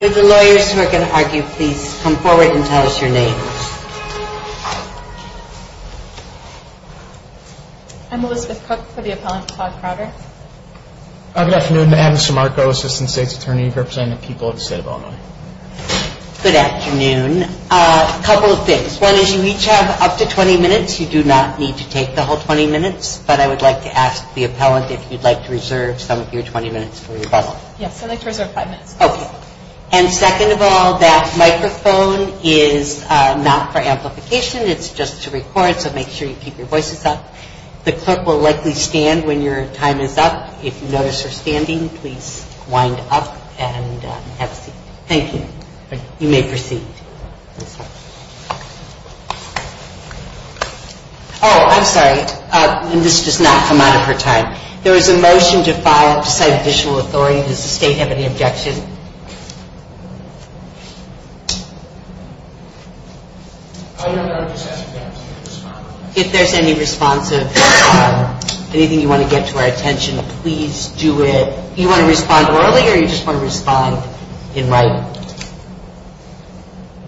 With the lawyers who are going to argue, please come forward and tell us your names. I'm Elizabeth Cook for the appellant, Claude Crowder. Good afternoon, Adam Simarco, Assistant State's Attorney, representing the people of the state of Illinois. Good afternoon. A couple of things. One is you each have up to 20 minutes. You do not need to take the whole 20 minutes, but I would like to ask the appellant if you'd like to reserve some of your 20 minutes for rebuttal. Yes, I'd like to reserve five minutes. Okay. And second of all, that microphone is not for amplification. It's just to record, so make sure you keep your voices up. The clerk will likely stand when your time is up. If you notice her standing, please wind up and have a seat. Thank you. You may proceed. Oh, I'm sorry. This does not come out of her time. There is a motion to file to cite official authority. Does the state have any objection? If there's any response of anything you want to get to our attention, please do it. Do you want to respond early or do you just want to respond in writing?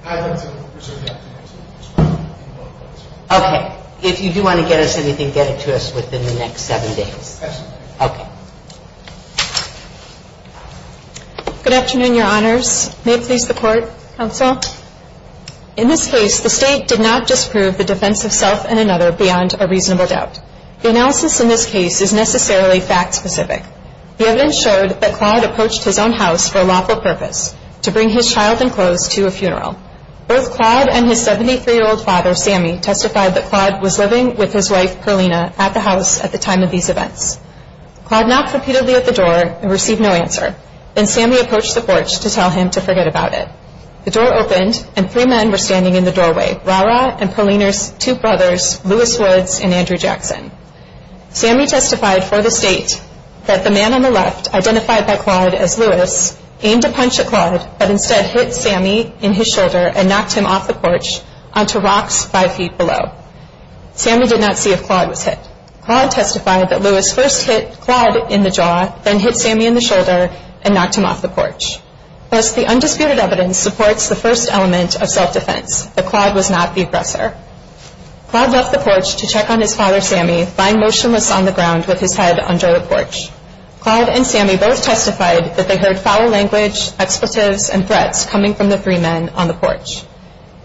I'd like to reserve the opportunity to respond in writing. Okay. If you do want to get us anything, get it to us within the next seven days. Okay. Good afternoon, Your Honors. May it please the Court, Counsel? In this case, the state did not disprove the defense of self and another beyond a reasonable doubt. The analysis in this case is necessarily fact-specific. The evidence showed that Claude approached his own house for a lawful purpose, to bring his child and clothes to a funeral. Both Claude and his 73-year-old father, Sammy, testified that Claude was living with his wife, Perlina, at the house at the time of these events. Claude knocked repeatedly at the door and received no answer. Then Sammy approached the porch to tell him to forget about it. The door opened and three men were standing in the doorway, Rara and Perlina's two brothers, Lewis Woods and Andrew Jackson. Sammy testified for the state that the man on the left, identified by Claude as Lewis, aimed a punch at Claude, but instead hit Sammy in his shoulder and knocked him off the porch onto rocks five feet below. Sammy did not see if Claude was hit. Claude testified that Lewis first hit Claude in the jaw, then hit Sammy in the shoulder and knocked him off the porch. Thus, the undisputed evidence supports the first element of self-defense, that Claude was not the aggressor. Claude left the porch to check on his father, Sammy, lying motionless on the ground with his head under the porch. Claude and Sammy both testified that they heard foul language, expletives and threats coming from the three men on the porch.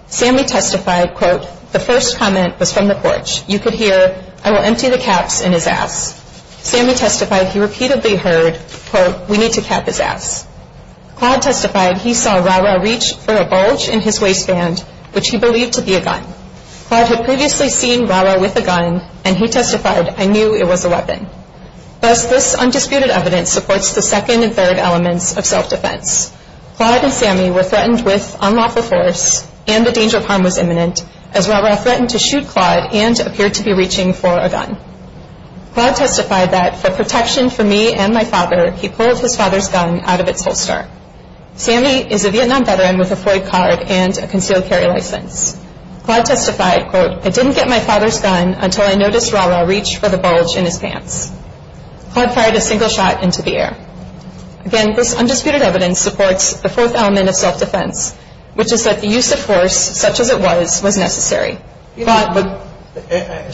Sammy testified, quote, the first comment was from the porch. You could hear, I will empty the caps in his ass. Sammy testified he repeatedly heard, quote, we need to cap his ass. Claude testified he saw Rara reach for a bulge in his waistband, which he believed to be a gun. Claude had previously seen Rara with a gun and he testified, I knew it was a weapon. Thus, this undisputed evidence supports the second and third elements of self-defense. Claude and Sammy were threatened with unlawful force and the danger of harm was imminent as Rara threatened to shoot Claude and appeared to be reaching for a gun. Claude testified that for protection for me and my father, he pulled his father's gun out of its holster. Sammy is a Vietnam veteran with a Floyd card and a concealed carry license. Claude testified, quote, I didn't get my father's gun until I noticed Rara reach for the bulge in his pants. Claude fired a single shot into the air. Again, this undisputed evidence supports the fourth element of self-defense, which is that the use of force, such as it was, was necessary. But I'm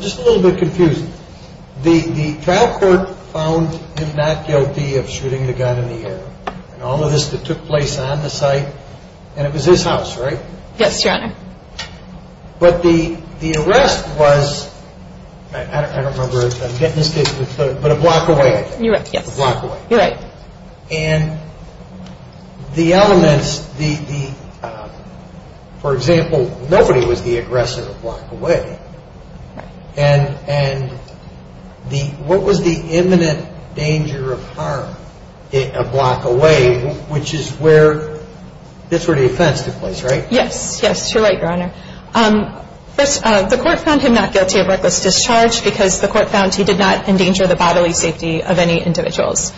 just a little bit confused. The trial court found him not guilty of shooting the gun in the air and all of this that took place on the site and it was his house, right? Yes, Your Honor. But the arrest was, I don't remember if I'm getting this, but a block away. You're right, yes. A block away. You're right. And the elements, for example, nobody was the aggressor a block away. Right. And what was the imminent danger of harm a block away, which is where this sort of offense took place, right? Yes, yes, you're right, Your Honor. First, the court found him not guilty of reckless discharge because the court found he did not endanger the bodily safety of any individuals.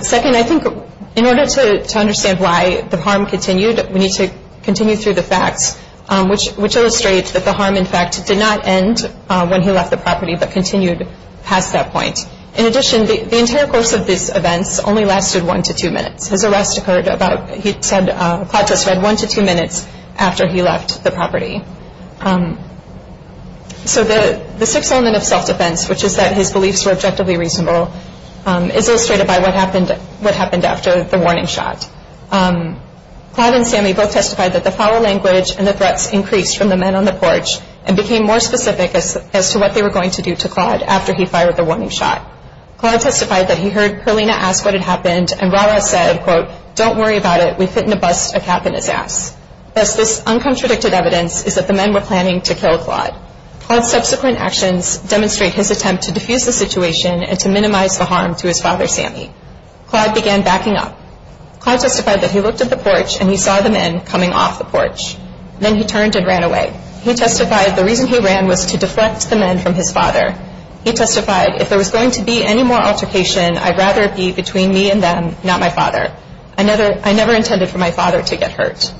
Second, I think in order to understand why the harm continued, we need to continue through the facts, which illustrates that the harm, in fact, did not end when he left the property but continued past that point. In addition, the entire course of these events only lasted one to two minutes. His arrest occurred about, he said, Claude testified one to two minutes after he left the property. So the sixth element of self-defense, which is that his beliefs were objectively reasonable, is illustrated by what happened after the warning shot. Claude and Sammy both testified that the foul language and the threats increased from the men on the porch and became more specific as to what they were going to do to Claude after he fired the warning shot. Claude testified that he heard Perlina ask what had happened and Rahrah said, quote, don't worry about it, we fit in a bust, a cap in his ass. Thus, this uncontradicted evidence is that the men were planning to kill Claude. Claude's subsequent actions demonstrate his attempt to diffuse the situation and to minimize the harm to his father, Sammy. Claude began backing up. Claude testified that he looked at the porch and he saw the men coming off the porch. Then he turned and ran away. He testified the reason he ran was to deflect the men from his father. He testified, if there was going to be any more altercation, I'd rather it be between me and them, not my father. I never intended for my father to get hurt.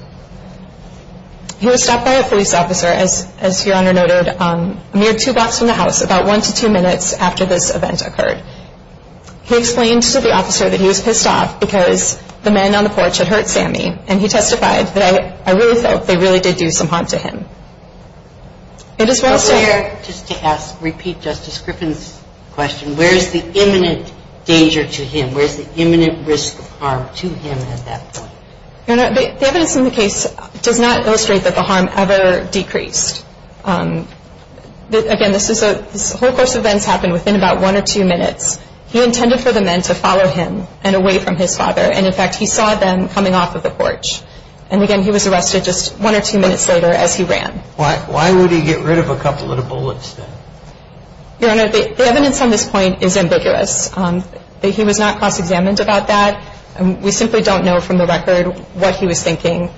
He was stopped by a police officer, as Your Honor noted, a mere two blocks from the house, about one to two minutes after this event occurred. He explained to the officer that he was pissed off because the men on the porch had hurt Sammy, and he testified that I really felt they really did do some harm to him. Where, just to ask, repeat Justice Griffin's question, where is the imminent danger to him? Where is the imminent risk of harm to him at that point? Your Honor, the evidence in the case does not illustrate that the harm ever decreased. Again, this whole course of events happened within about one or two minutes. He intended for the men to follow him and away from his father, and, in fact, he saw them coming off of the porch. And, again, he was arrested just one or two minutes later as he ran. Why would he get rid of a couple of the bullets then? Your Honor, the evidence on this point is ambiguous. He was not cross-examined about that. We simply don't know from the record what he was thinking.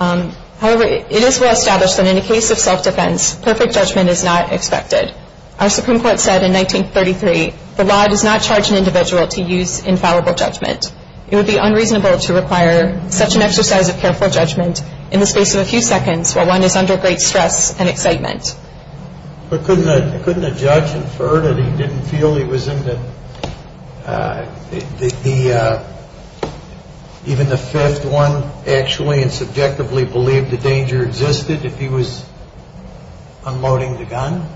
However, it is well established that in a case of self-defense, perfect judgment is not expected. Our Supreme Court said in 1933, the law does not charge an individual to use infallible judgment. It would be unreasonable to require such an exercise of careful judgment in the space of a few seconds while one is under great stress and excitement. But couldn't a judge infer that he didn't feel he was in the, even the fifth one actually and subjectively believed the danger existed if he was unloading the gun?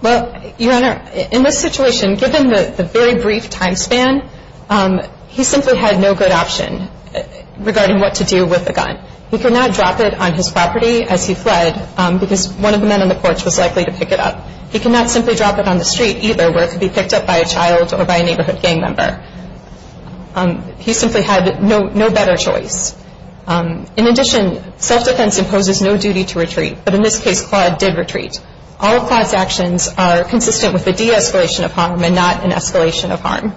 Well, Your Honor, in this situation, given the very brief time span, he simply had no good option regarding what to do with the gun. He could not drop it on his property as he fled because one of the men on the porch was likely to pick it up. He could not simply drop it on the street either where it could be picked up by a child or by a neighborhood gang member. He simply had no better choice. In addition, self-defense imposes no duty to retreat. But in this case, Claude did retreat. All of Claude's actions are consistent with the de-escalation of harm and not an escalation of harm.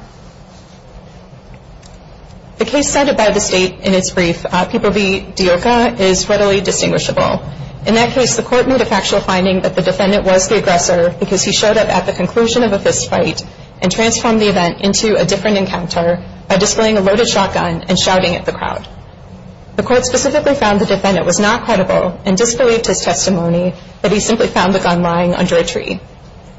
The case cited by the State in its brief, People v. Deoca, is readily distinguishable. In that case, the court made a factual finding that the defendant was the aggressor because he showed up at the conclusion of a fistfight and transformed the event into a different encounter by displaying a loaded shotgun and shouting at the crowd. The court specifically found the defendant was not credible and disbelieved his testimony that he simply found the gun lying under a tree.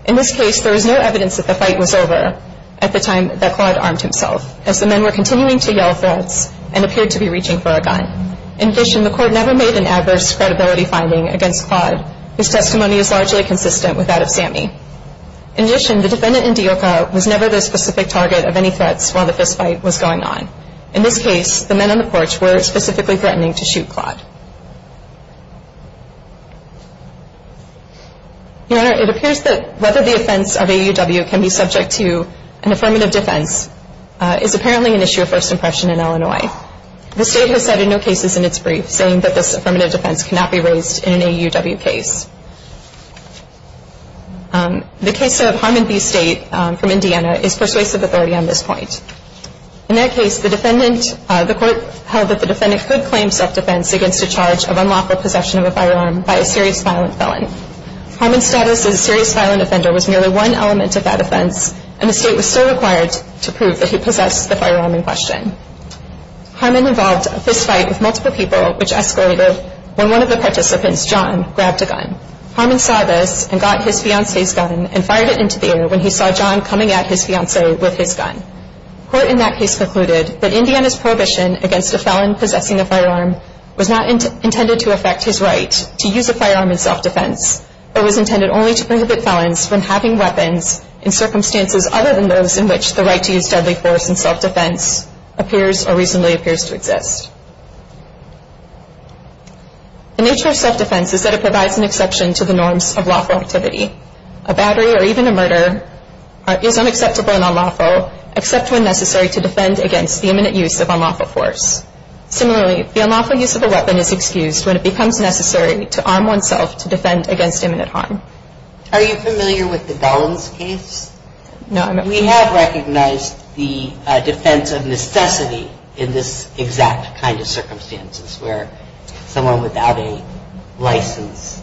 In this case, there was no evidence that the fight was over at the time that Claude armed himself as the men were continuing to yell threats and appeared to be reaching for a gun. In addition, the court never made an adverse credibility finding against Claude. His testimony is largely consistent with that of Sammy. In addition, the defendant in Deoca was never the specific target of any threats while the fistfight was going on. In this case, the men on the porch were specifically threatening to shoot Claude. Your Honor, it appears that whether the offense of AUW can be subject to an affirmative defense is apparently an issue of first impression in Illinois. The State has cited no cases in its brief saying that this affirmative defense cannot be raised in an AUW case. The case of Harmon v. State from Indiana is persuasive authority on this point. In that case, the court held that the defendant could claim self-defense against a charge of unlawful possession of a firearm by a serious violent felon. Harmon's status as a serious violent offender was merely one element of that offense and the State was still required to prove that he possessed the firearm in question. Harmon involved a fistfight with multiple people which escalated when one of the participants, John, grabbed a gun. Harmon saw this and got his fiancee's gun and fired it into the air when he saw John coming at his fiancee with his gun. Court in that case concluded that Indiana's prohibition against a felon possessing a firearm was not intended to affect his right to use a firearm in self-defense but was intended only to prohibit felons from having weapons in circumstances other than those in which the right to use deadly force in self-defense appears or reasonably appears to exist. The nature of self-defense is that it provides an exception to the norms of lawful activity. A battery or even a murder is unacceptable and unlawful except when necessary to defend against the imminent use of unlawful force. Similarly, the unlawful use of a weapon is excused when it becomes necessary to arm oneself to defend against imminent harm. Are you familiar with the Dollins case? We have recognized the defense of necessity in this exact kind of circumstances where someone without a license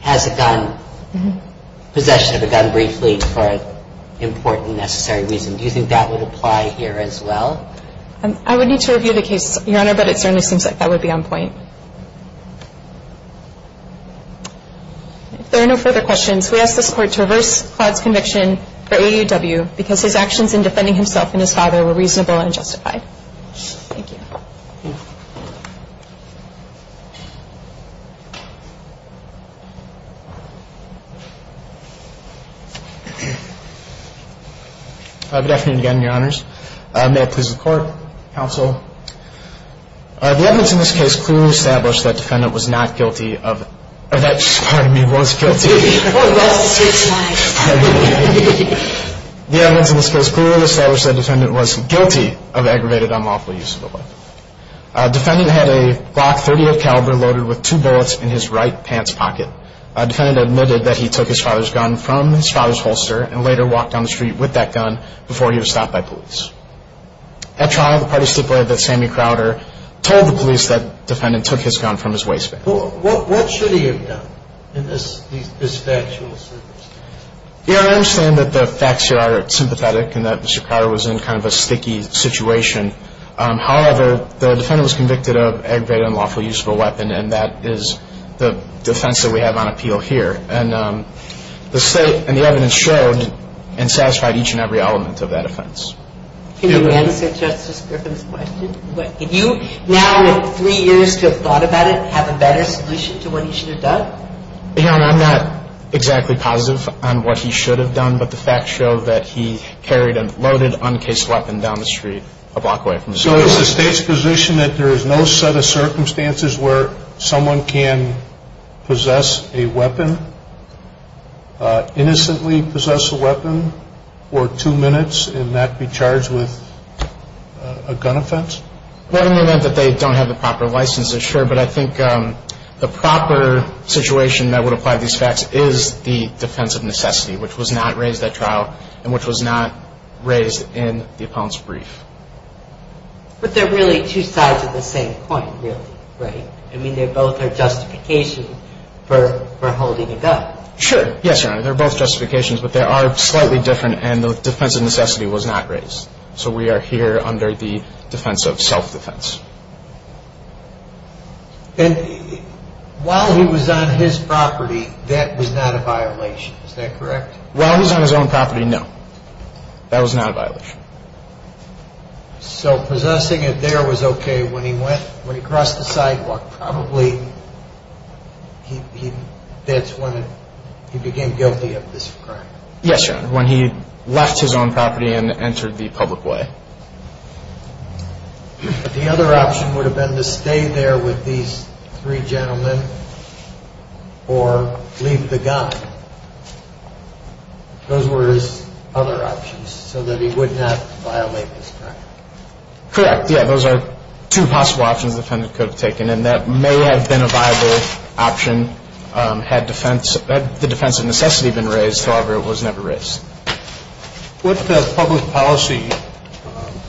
has a gun, possession of a gun briefly for an important necessary reason. Do you think that would apply here as well? I would need to review the case, Your Honor, but it certainly seems like that would be on point. If there are no further questions, we ask this Court to reverse Claude's conviction for AUW because his actions in defending himself and his father were reasonable and justified. Thank you. Good afternoon again, Your Honors. May it please the Court, Counsel. The evidence in this case clearly established that the defendant was not guilty of, or that, pardon me, was guilty. The evidence in this case clearly established that the defendant was guilty of aggravated unlawful use of a weapon. The defendant had a Glock .38 caliber loaded with two bullets in his right pants pocket. The defendant admitted that he took his father's gun from his father's holster and later walked down the street with that gun before he was stopped by police. At trial, the parties stipulated that Sammy Crowder told the police that the defendant took his gun from his waistband. What should he have done in this factual circumstance? Your Honor, I understand that the facts here are sympathetic and that Mr. Crowder was in kind of a sticky situation. However, the defendant was convicted of aggravated unlawful use of a weapon, and that is the defense that we have on appeal here. And the State and the evidence showed and satisfied each and every element of that offense. Can you answer Justice Griffin's question? Can you, now with three years to have thought about it, have a better solution to what he should have done? Your Honor, I'm not exactly positive on what he should have done, but the facts show that he carried a loaded, uncased weapon down the street a block away from the scene. So is the State's position that there is no set of circumstances where someone can possess a weapon, innocently possess a weapon, or two minutes and not be charged with a gun offense? Well, in the event that they don't have the proper license, they're sure. But I think the proper situation that would apply to these facts is the defense of necessity, which was not raised at trial and which was not raised in the opponent's brief. But they're really two sides of the same coin, really, right? I mean, they both are justifications for holding a gun. Sure. Yes, Your Honor. They're both justifications, but they are slightly different, and the defense of necessity was not raised. So we are here under the defense of self-defense. And while he was on his property, that was not a violation, is that correct? While he was on his own property, no. That was not a violation. So possessing it there was okay. When he crossed the sidewalk, probably that's when he became guilty of this crime. Yes, Your Honor, when he left his own property and entered the public way. The other option would have been to stay there with these three gentlemen or leave the gun. Those were his other options so that he would not violate this crime. Correct. Yes, those are two possible options the defendant could have taken, and that may have been a viable option had the defense of necessity been raised, however, it was never raised. What public policy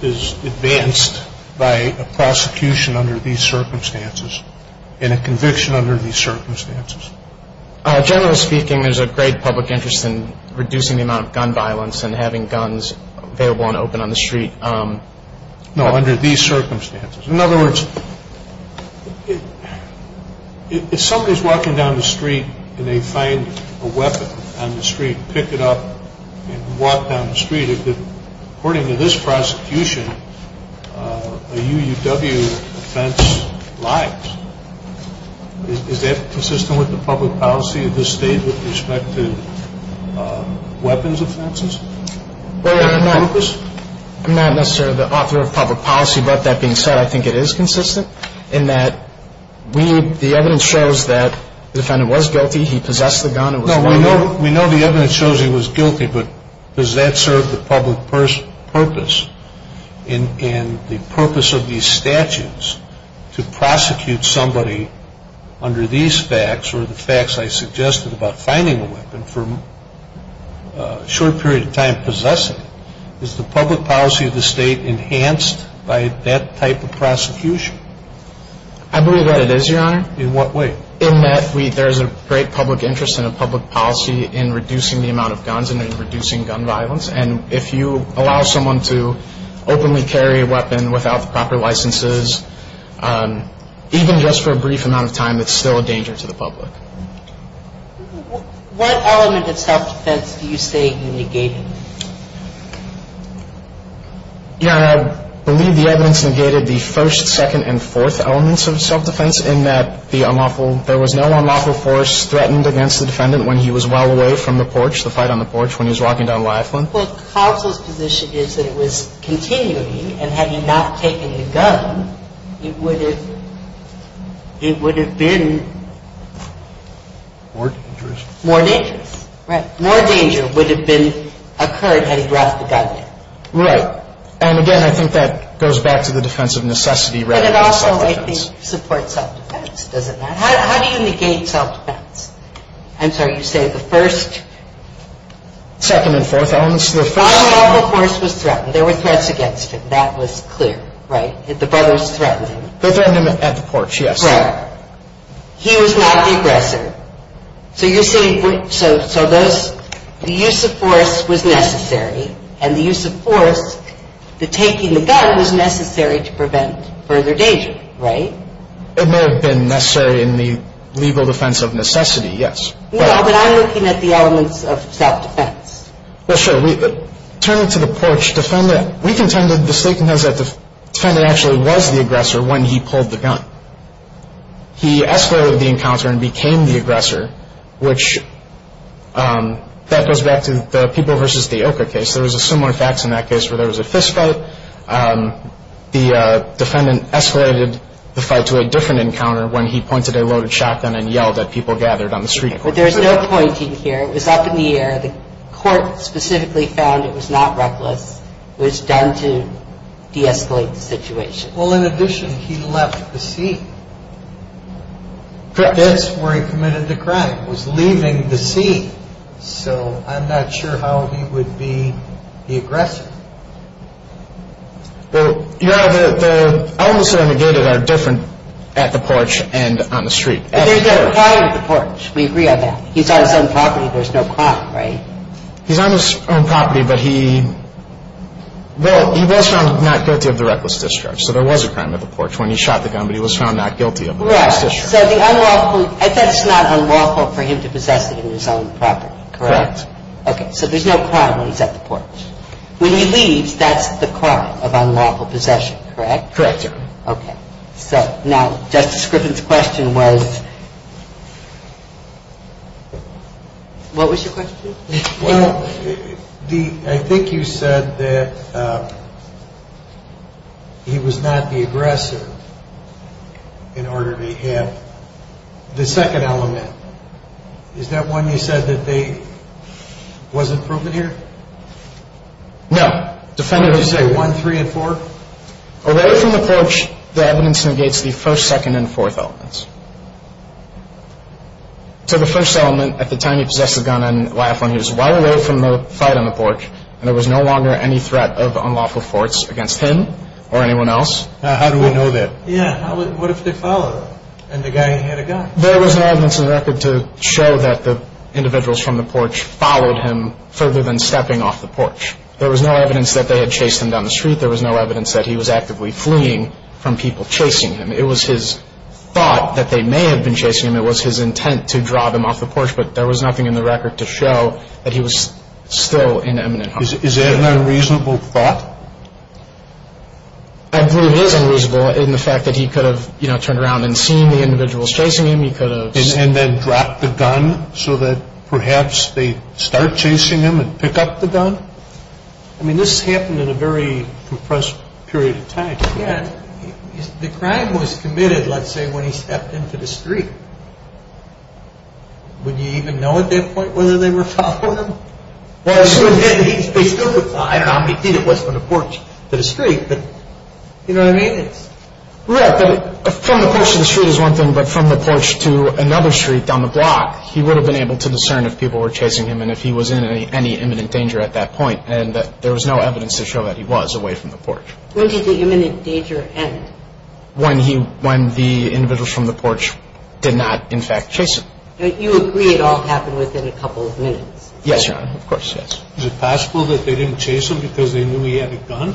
is advanced by a prosecution under these circumstances and a conviction under these circumstances? Generally speaking, there's a great public interest in reducing the amount of gun violence and having guns available and open on the street. No, under these circumstances. In other words, if somebody's walking down the street and they find a weapon on the street, pick it up and walk down the street, according to this prosecution, a UUW offense lies. Is that consistent with the public policy of this state with respect to weapons offenses? I'm not necessarily the author of public policy, but that being said, I think it is consistent in that the evidence shows that the defendant was guilty, he possessed the gun. No, we know the evidence shows he was guilty, but does that serve the public purpose and the purpose of these statutes to prosecute somebody under these facts or the facts I suggested about finding a weapon for a short period of time possessing it? Is the public policy of the state enhanced by that type of prosecution? I believe that it is, Your Honor. In what way? In that there's a great public interest and a public policy in reducing the amount of guns and in reducing gun violence, and if you allow someone to openly carry a weapon without the proper licenses, even just for a brief amount of time, it's still a danger to the public. What element of self-defense do you say you negated? Your Honor, I believe the evidence negated the first, second, and fourth elements of self-defense in that there was no unlawful force threatened against the defendant when he was well away from the porch, the fight on the porch, when he was walking down Lyaflin. Well, counsel's position is that it was continuing, and had he not taken the gun, it would have been... More dangerous. More dangerous. Right. More danger would have occurred had he brought the gun in. Right. And again, I think that goes back to the defense of necessity rather than self-defense. And it also, I think, supports self-defense, does it not? How do you negate self-defense? I'm sorry, you say the first... Second and fourth elements. Unlawful force was threatened. There were threats against him. That was clear. Right? The brothers threatened him. They threatened him at the porch, yes. Right. He was not the aggressor. So you're saying, so those, the use of force was necessary, and the use of force, the taking the gun was necessary to prevent further danger, right? It may have been necessary in the legal defense of necessity, yes. No, but I'm looking at the elements of self-defense. Well, sure. Turn it to the porch. Defendant, we contended, the state contends that the defendant actually was the aggressor when he pulled the gun. He escalated the encounter and became the aggressor, which, that goes back to the people versus the ochre case. There was a similar fact in that case where there was a fistfight. The defendant escalated the fight to a different encounter when he pointed a loaded shotgun and yelled at people gathered on the street. But there's no pointing here. It was up in the air. The court specifically found it was not reckless. It was done to de-escalate the situation. Well, in addition, he left the scene. That's where he committed the crime, was leaving the scene. So I'm not sure how he would be the aggressor. Well, the elements that are negated are different at the porch and on the street. There's a crime at the porch. We agree on that. He's on his own property. There's no crime, right? He's on his own property, but he was found not guilty of the reckless discharge. So there was a crime at the porch when he shot the gun, but he was found not guilty of the reckless discharge. So that's not unlawful for him to possess it in his own property, correct? Correct. Okay, so there's no crime when he's at the porch. When he leaves, that's the crime of unlawful possession, correct? Correct, Your Honor. Okay. So now, Justice Griffin's question was? What was your question? Well, I think you said that he was not the aggressor in order to have the second element. Is that one you said that wasn't proven here? No. Did you say one, three, and four? Away from the porch, the evidence negates the first, second, and fourth elements. So the first element, at the time he possessed the gun on YF1, he was a while away from the fight on the porch, and there was no longer any threat of unlawful force against him or anyone else. How do we know that? Yeah, what if they followed him and the guy had a gun? There was no evidence in the record to show that the individuals from the porch followed him further than stepping off the porch. There was no evidence that they had chased him down the street. There was no evidence that he was actively fleeing from people chasing him. It was his thought that they may have been chasing him. It was his intent to draw them off the porch, but there was nothing in the record to show that he was still in eminent harm. Is that an unreasonable thought? I believe it is unreasonable in the fact that he could have, you know, turned around and seen the individuals chasing him. He could have seen them. And then dropped the gun so that perhaps they start chasing him and pick up the gun? I mean, this happened in a very compressed period of time. The crime was committed, let's say, when he stepped into the street. Would you even know at that point whether they were following him? Well, he still would have thought, I don't know how many feet it was from the porch to the street, but you know what I mean? Yeah, but from the porch to the street is one thing, but from the porch to another street down the block, he would have been able to discern if people were chasing him and if he was in any imminent danger at that point, and there was no evidence to show that he was away from the porch. When did the imminent danger end? When the individuals from the porch did not, in fact, chase him. You agree it all happened within a couple of minutes? Yes, Your Honor, of course, yes. Is it possible that they didn't chase him because they knew he had a gun?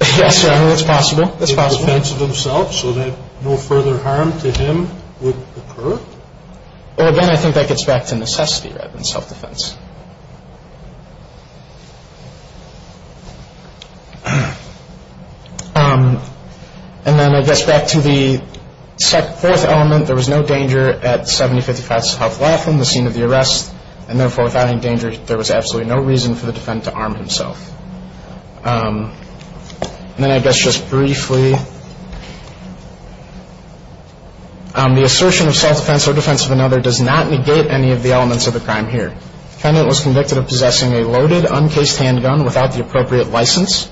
Yes, Your Honor, it's possible, it's possible. In defense of themselves so that no further harm to him would occur? Well, again, I think that gets back to necessity rather than self-defense. And then I guess back to the fourth element, there was no danger at 7055 South Laughlin, the scene of the arrest, and therefore without any danger there was absolutely no reason for the defendant to arm himself. And then I guess just briefly, the assertion of self-defense or defense of another does not negate any of the elements of the crime here. The defendant was convicted of possessing a loaded, uncased handgun without the appropriate license.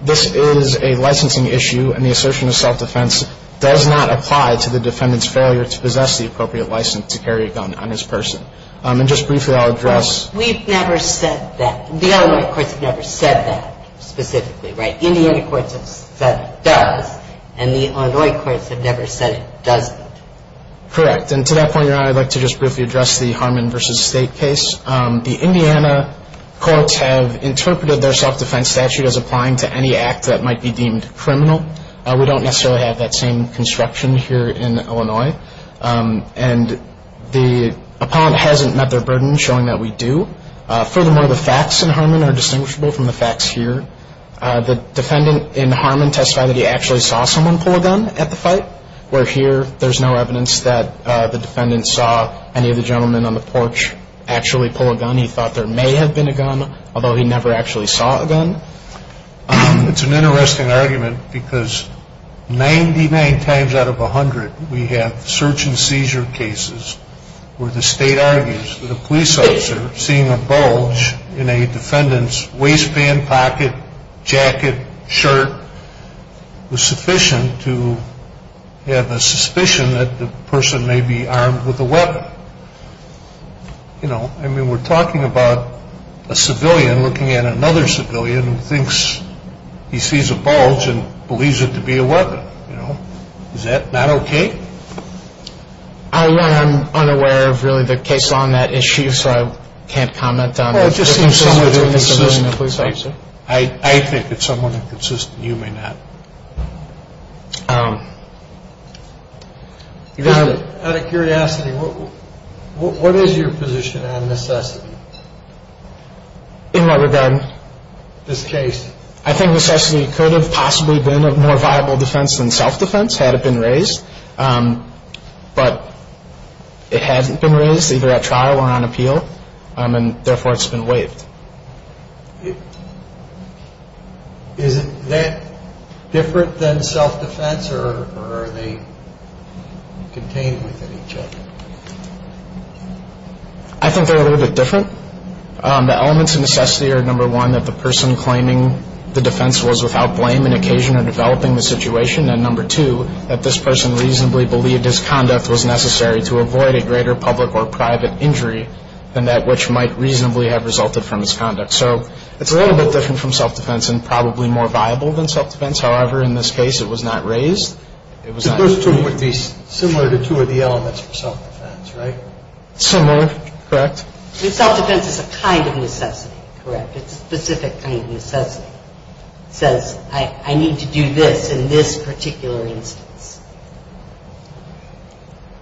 This is a licensing issue, and the assertion of self-defense does not apply to the defendant's failure to possess the appropriate license to carry a gun on his person. And just briefly, I'll address. We've never said that. The Illinois courts have never said that specifically, right? Indiana courts have said it does, and the Illinois courts have never said it doesn't. Correct. And to that point, Your Honor, I'd like to just briefly address the Harmon v. State case. The Indiana courts have interpreted their self-defense statute as applying to any act that might be deemed criminal. We don't necessarily have that same construction here in Illinois. And the appellant hasn't met their burden, showing that we do. Furthermore, the facts in Harmon are distinguishable from the facts here. The defendant in Harmon testified that he actually saw someone pull a gun at the fight, where here there's no evidence that the defendant saw any of the gentlemen on the porch actually pull a gun. He thought there may have been a gun, although he never actually saw a gun. It's an interesting argument because 99 times out of 100, we have search and seizure cases where the state argues that a police officer seeing a bulge in a defendant's waistband, pocket, jacket, shirt, was sufficient to have a suspicion that the person may be armed with a weapon. You know, I mean, we're talking about a civilian looking at another civilian who thinks he sees a bulge and believes it to be a weapon. You know, is that not okay? I am unaware of really the case law on that issue, so I can't comment on it. Well, it just seems someone's inconsistent. I think it's someone who's inconsistent. You may not. Out of curiosity, what is your position on necessity? In what regard? This case. I think necessity could have possibly been a more viable defense than self-defense had it been raised. But it hasn't been raised either at trial or on appeal, and therefore it's been waived. Is it that different than self-defense, or are they contained within each other? I think they're a little bit different. The elements of necessity are, number one, that the person claiming the defense was without blame and occasion of developing the situation, and number two, that this person reasonably believed his conduct was necessary to avoid a greater public or private injury than that which might reasonably have resulted from his conduct. So it's a little bit different from self-defense and probably more viable than self-defense. However, in this case, it was not raised. Those two would be similar to two of the elements of self-defense, right? Similar, correct. I mean, self-defense is a kind of necessity, correct? It's a specific kind of necessity. It says, I need to do this in this particular instance.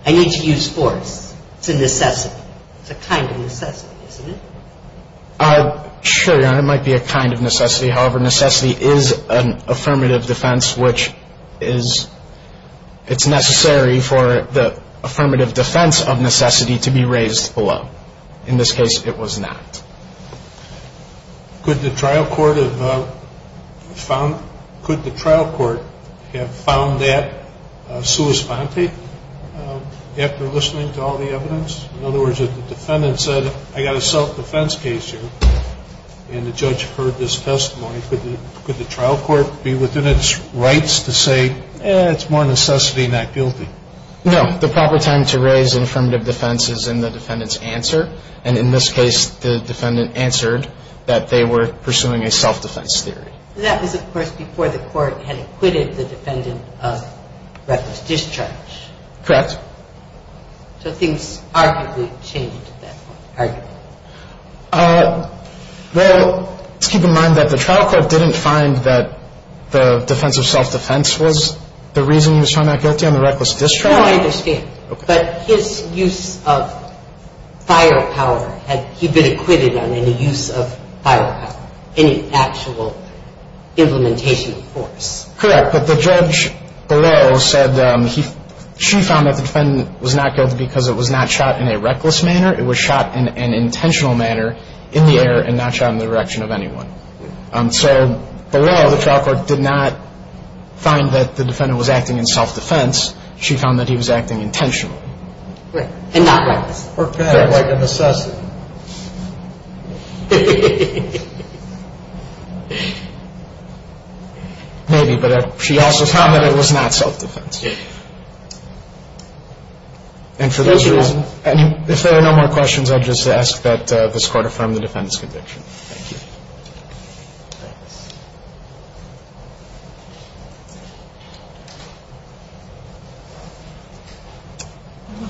I need to use force. It's a necessity. It's a kind of necessity, isn't it? Sure, Your Honor. It might be a kind of necessity. However, necessity is an affirmative defense, which is, it's necessary for the affirmative defense of necessity to be raised below. In this case, it was not. Could the trial court have found that sui sponte after listening to all the evidence? In other words, if the defendant said, I got a self-defense case here, and the judge heard this testimony, could the trial court be within its rights to say, eh, it's more necessity, not guilty? No. The proper time to raise affirmative defense is in the defendant's answer. And in this case, the defendant answered that they were pursuing a self-defense theory. That was, of course, before the court had acquitted the defendant of reckless discharge. Correct. So things arguably changed at that point, arguably. Well, let's keep in mind that the trial court didn't find that the defense of self-defense was the reason he was trying not guilty on the reckless discharge. No, I understand. But his use of firepower, had he been acquitted on any use of firepower, any actual implementation of force? Correct. But the judge below said she found that the defendant was not guilty because it was not shot in a reckless manner. It was shot in an intentional manner in the air and not shot in the direction of anyone. So below, the trial court did not find that the defendant was acting in self-defense. She found that he was acting intentionally. Right. And not reckless. Or bad, like an assassin. Maybe. But she also found that it was not self-defense. Yeah. And for those reasons. Thank you. And if there are no more questions, I'd just ask that this Court affirm the defendant's conviction. Thank you.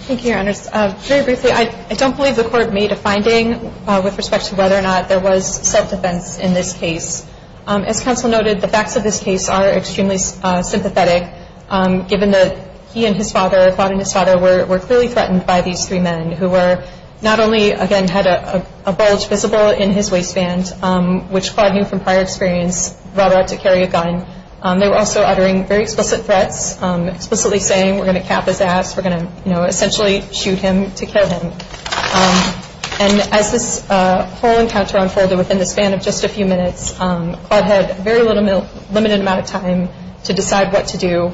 Thank you, Your Honors. Very briefly, I don't believe the Court made a finding with respect to whether or not there was self-defense in this case. As counsel noted, the facts of this case are extremely sympathetic, given that he and his father were clearly threatened by these three men, who were not only, again, had a bulge visible in his waistband, which clawed him from prior experience, brought out to carry a gun. They were also uttering very explicit threats, explicitly saying, we're going to cap his ass, we're going to essentially shoot him to kill him. And as this whole encounter unfolded within the span of just a few minutes, Claude had very limited amount of time to decide what to do.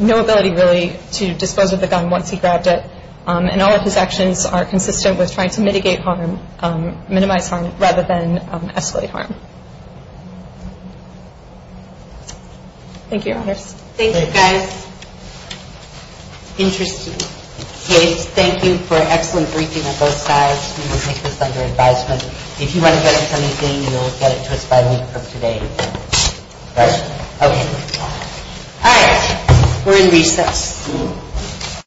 No ability, really, to dispose of the gun once he grabbed it. And all of his actions are consistent with trying to mitigate harm, minimize harm, rather than escalate harm. Thank you, Your Honors. Thank you, guys. Interesting case. Thank you for an excellent briefing on both sides. We will take this under advisement. If you want to address anything, you'll get it to us by week from today. Right? Okay. All right. We're in recess.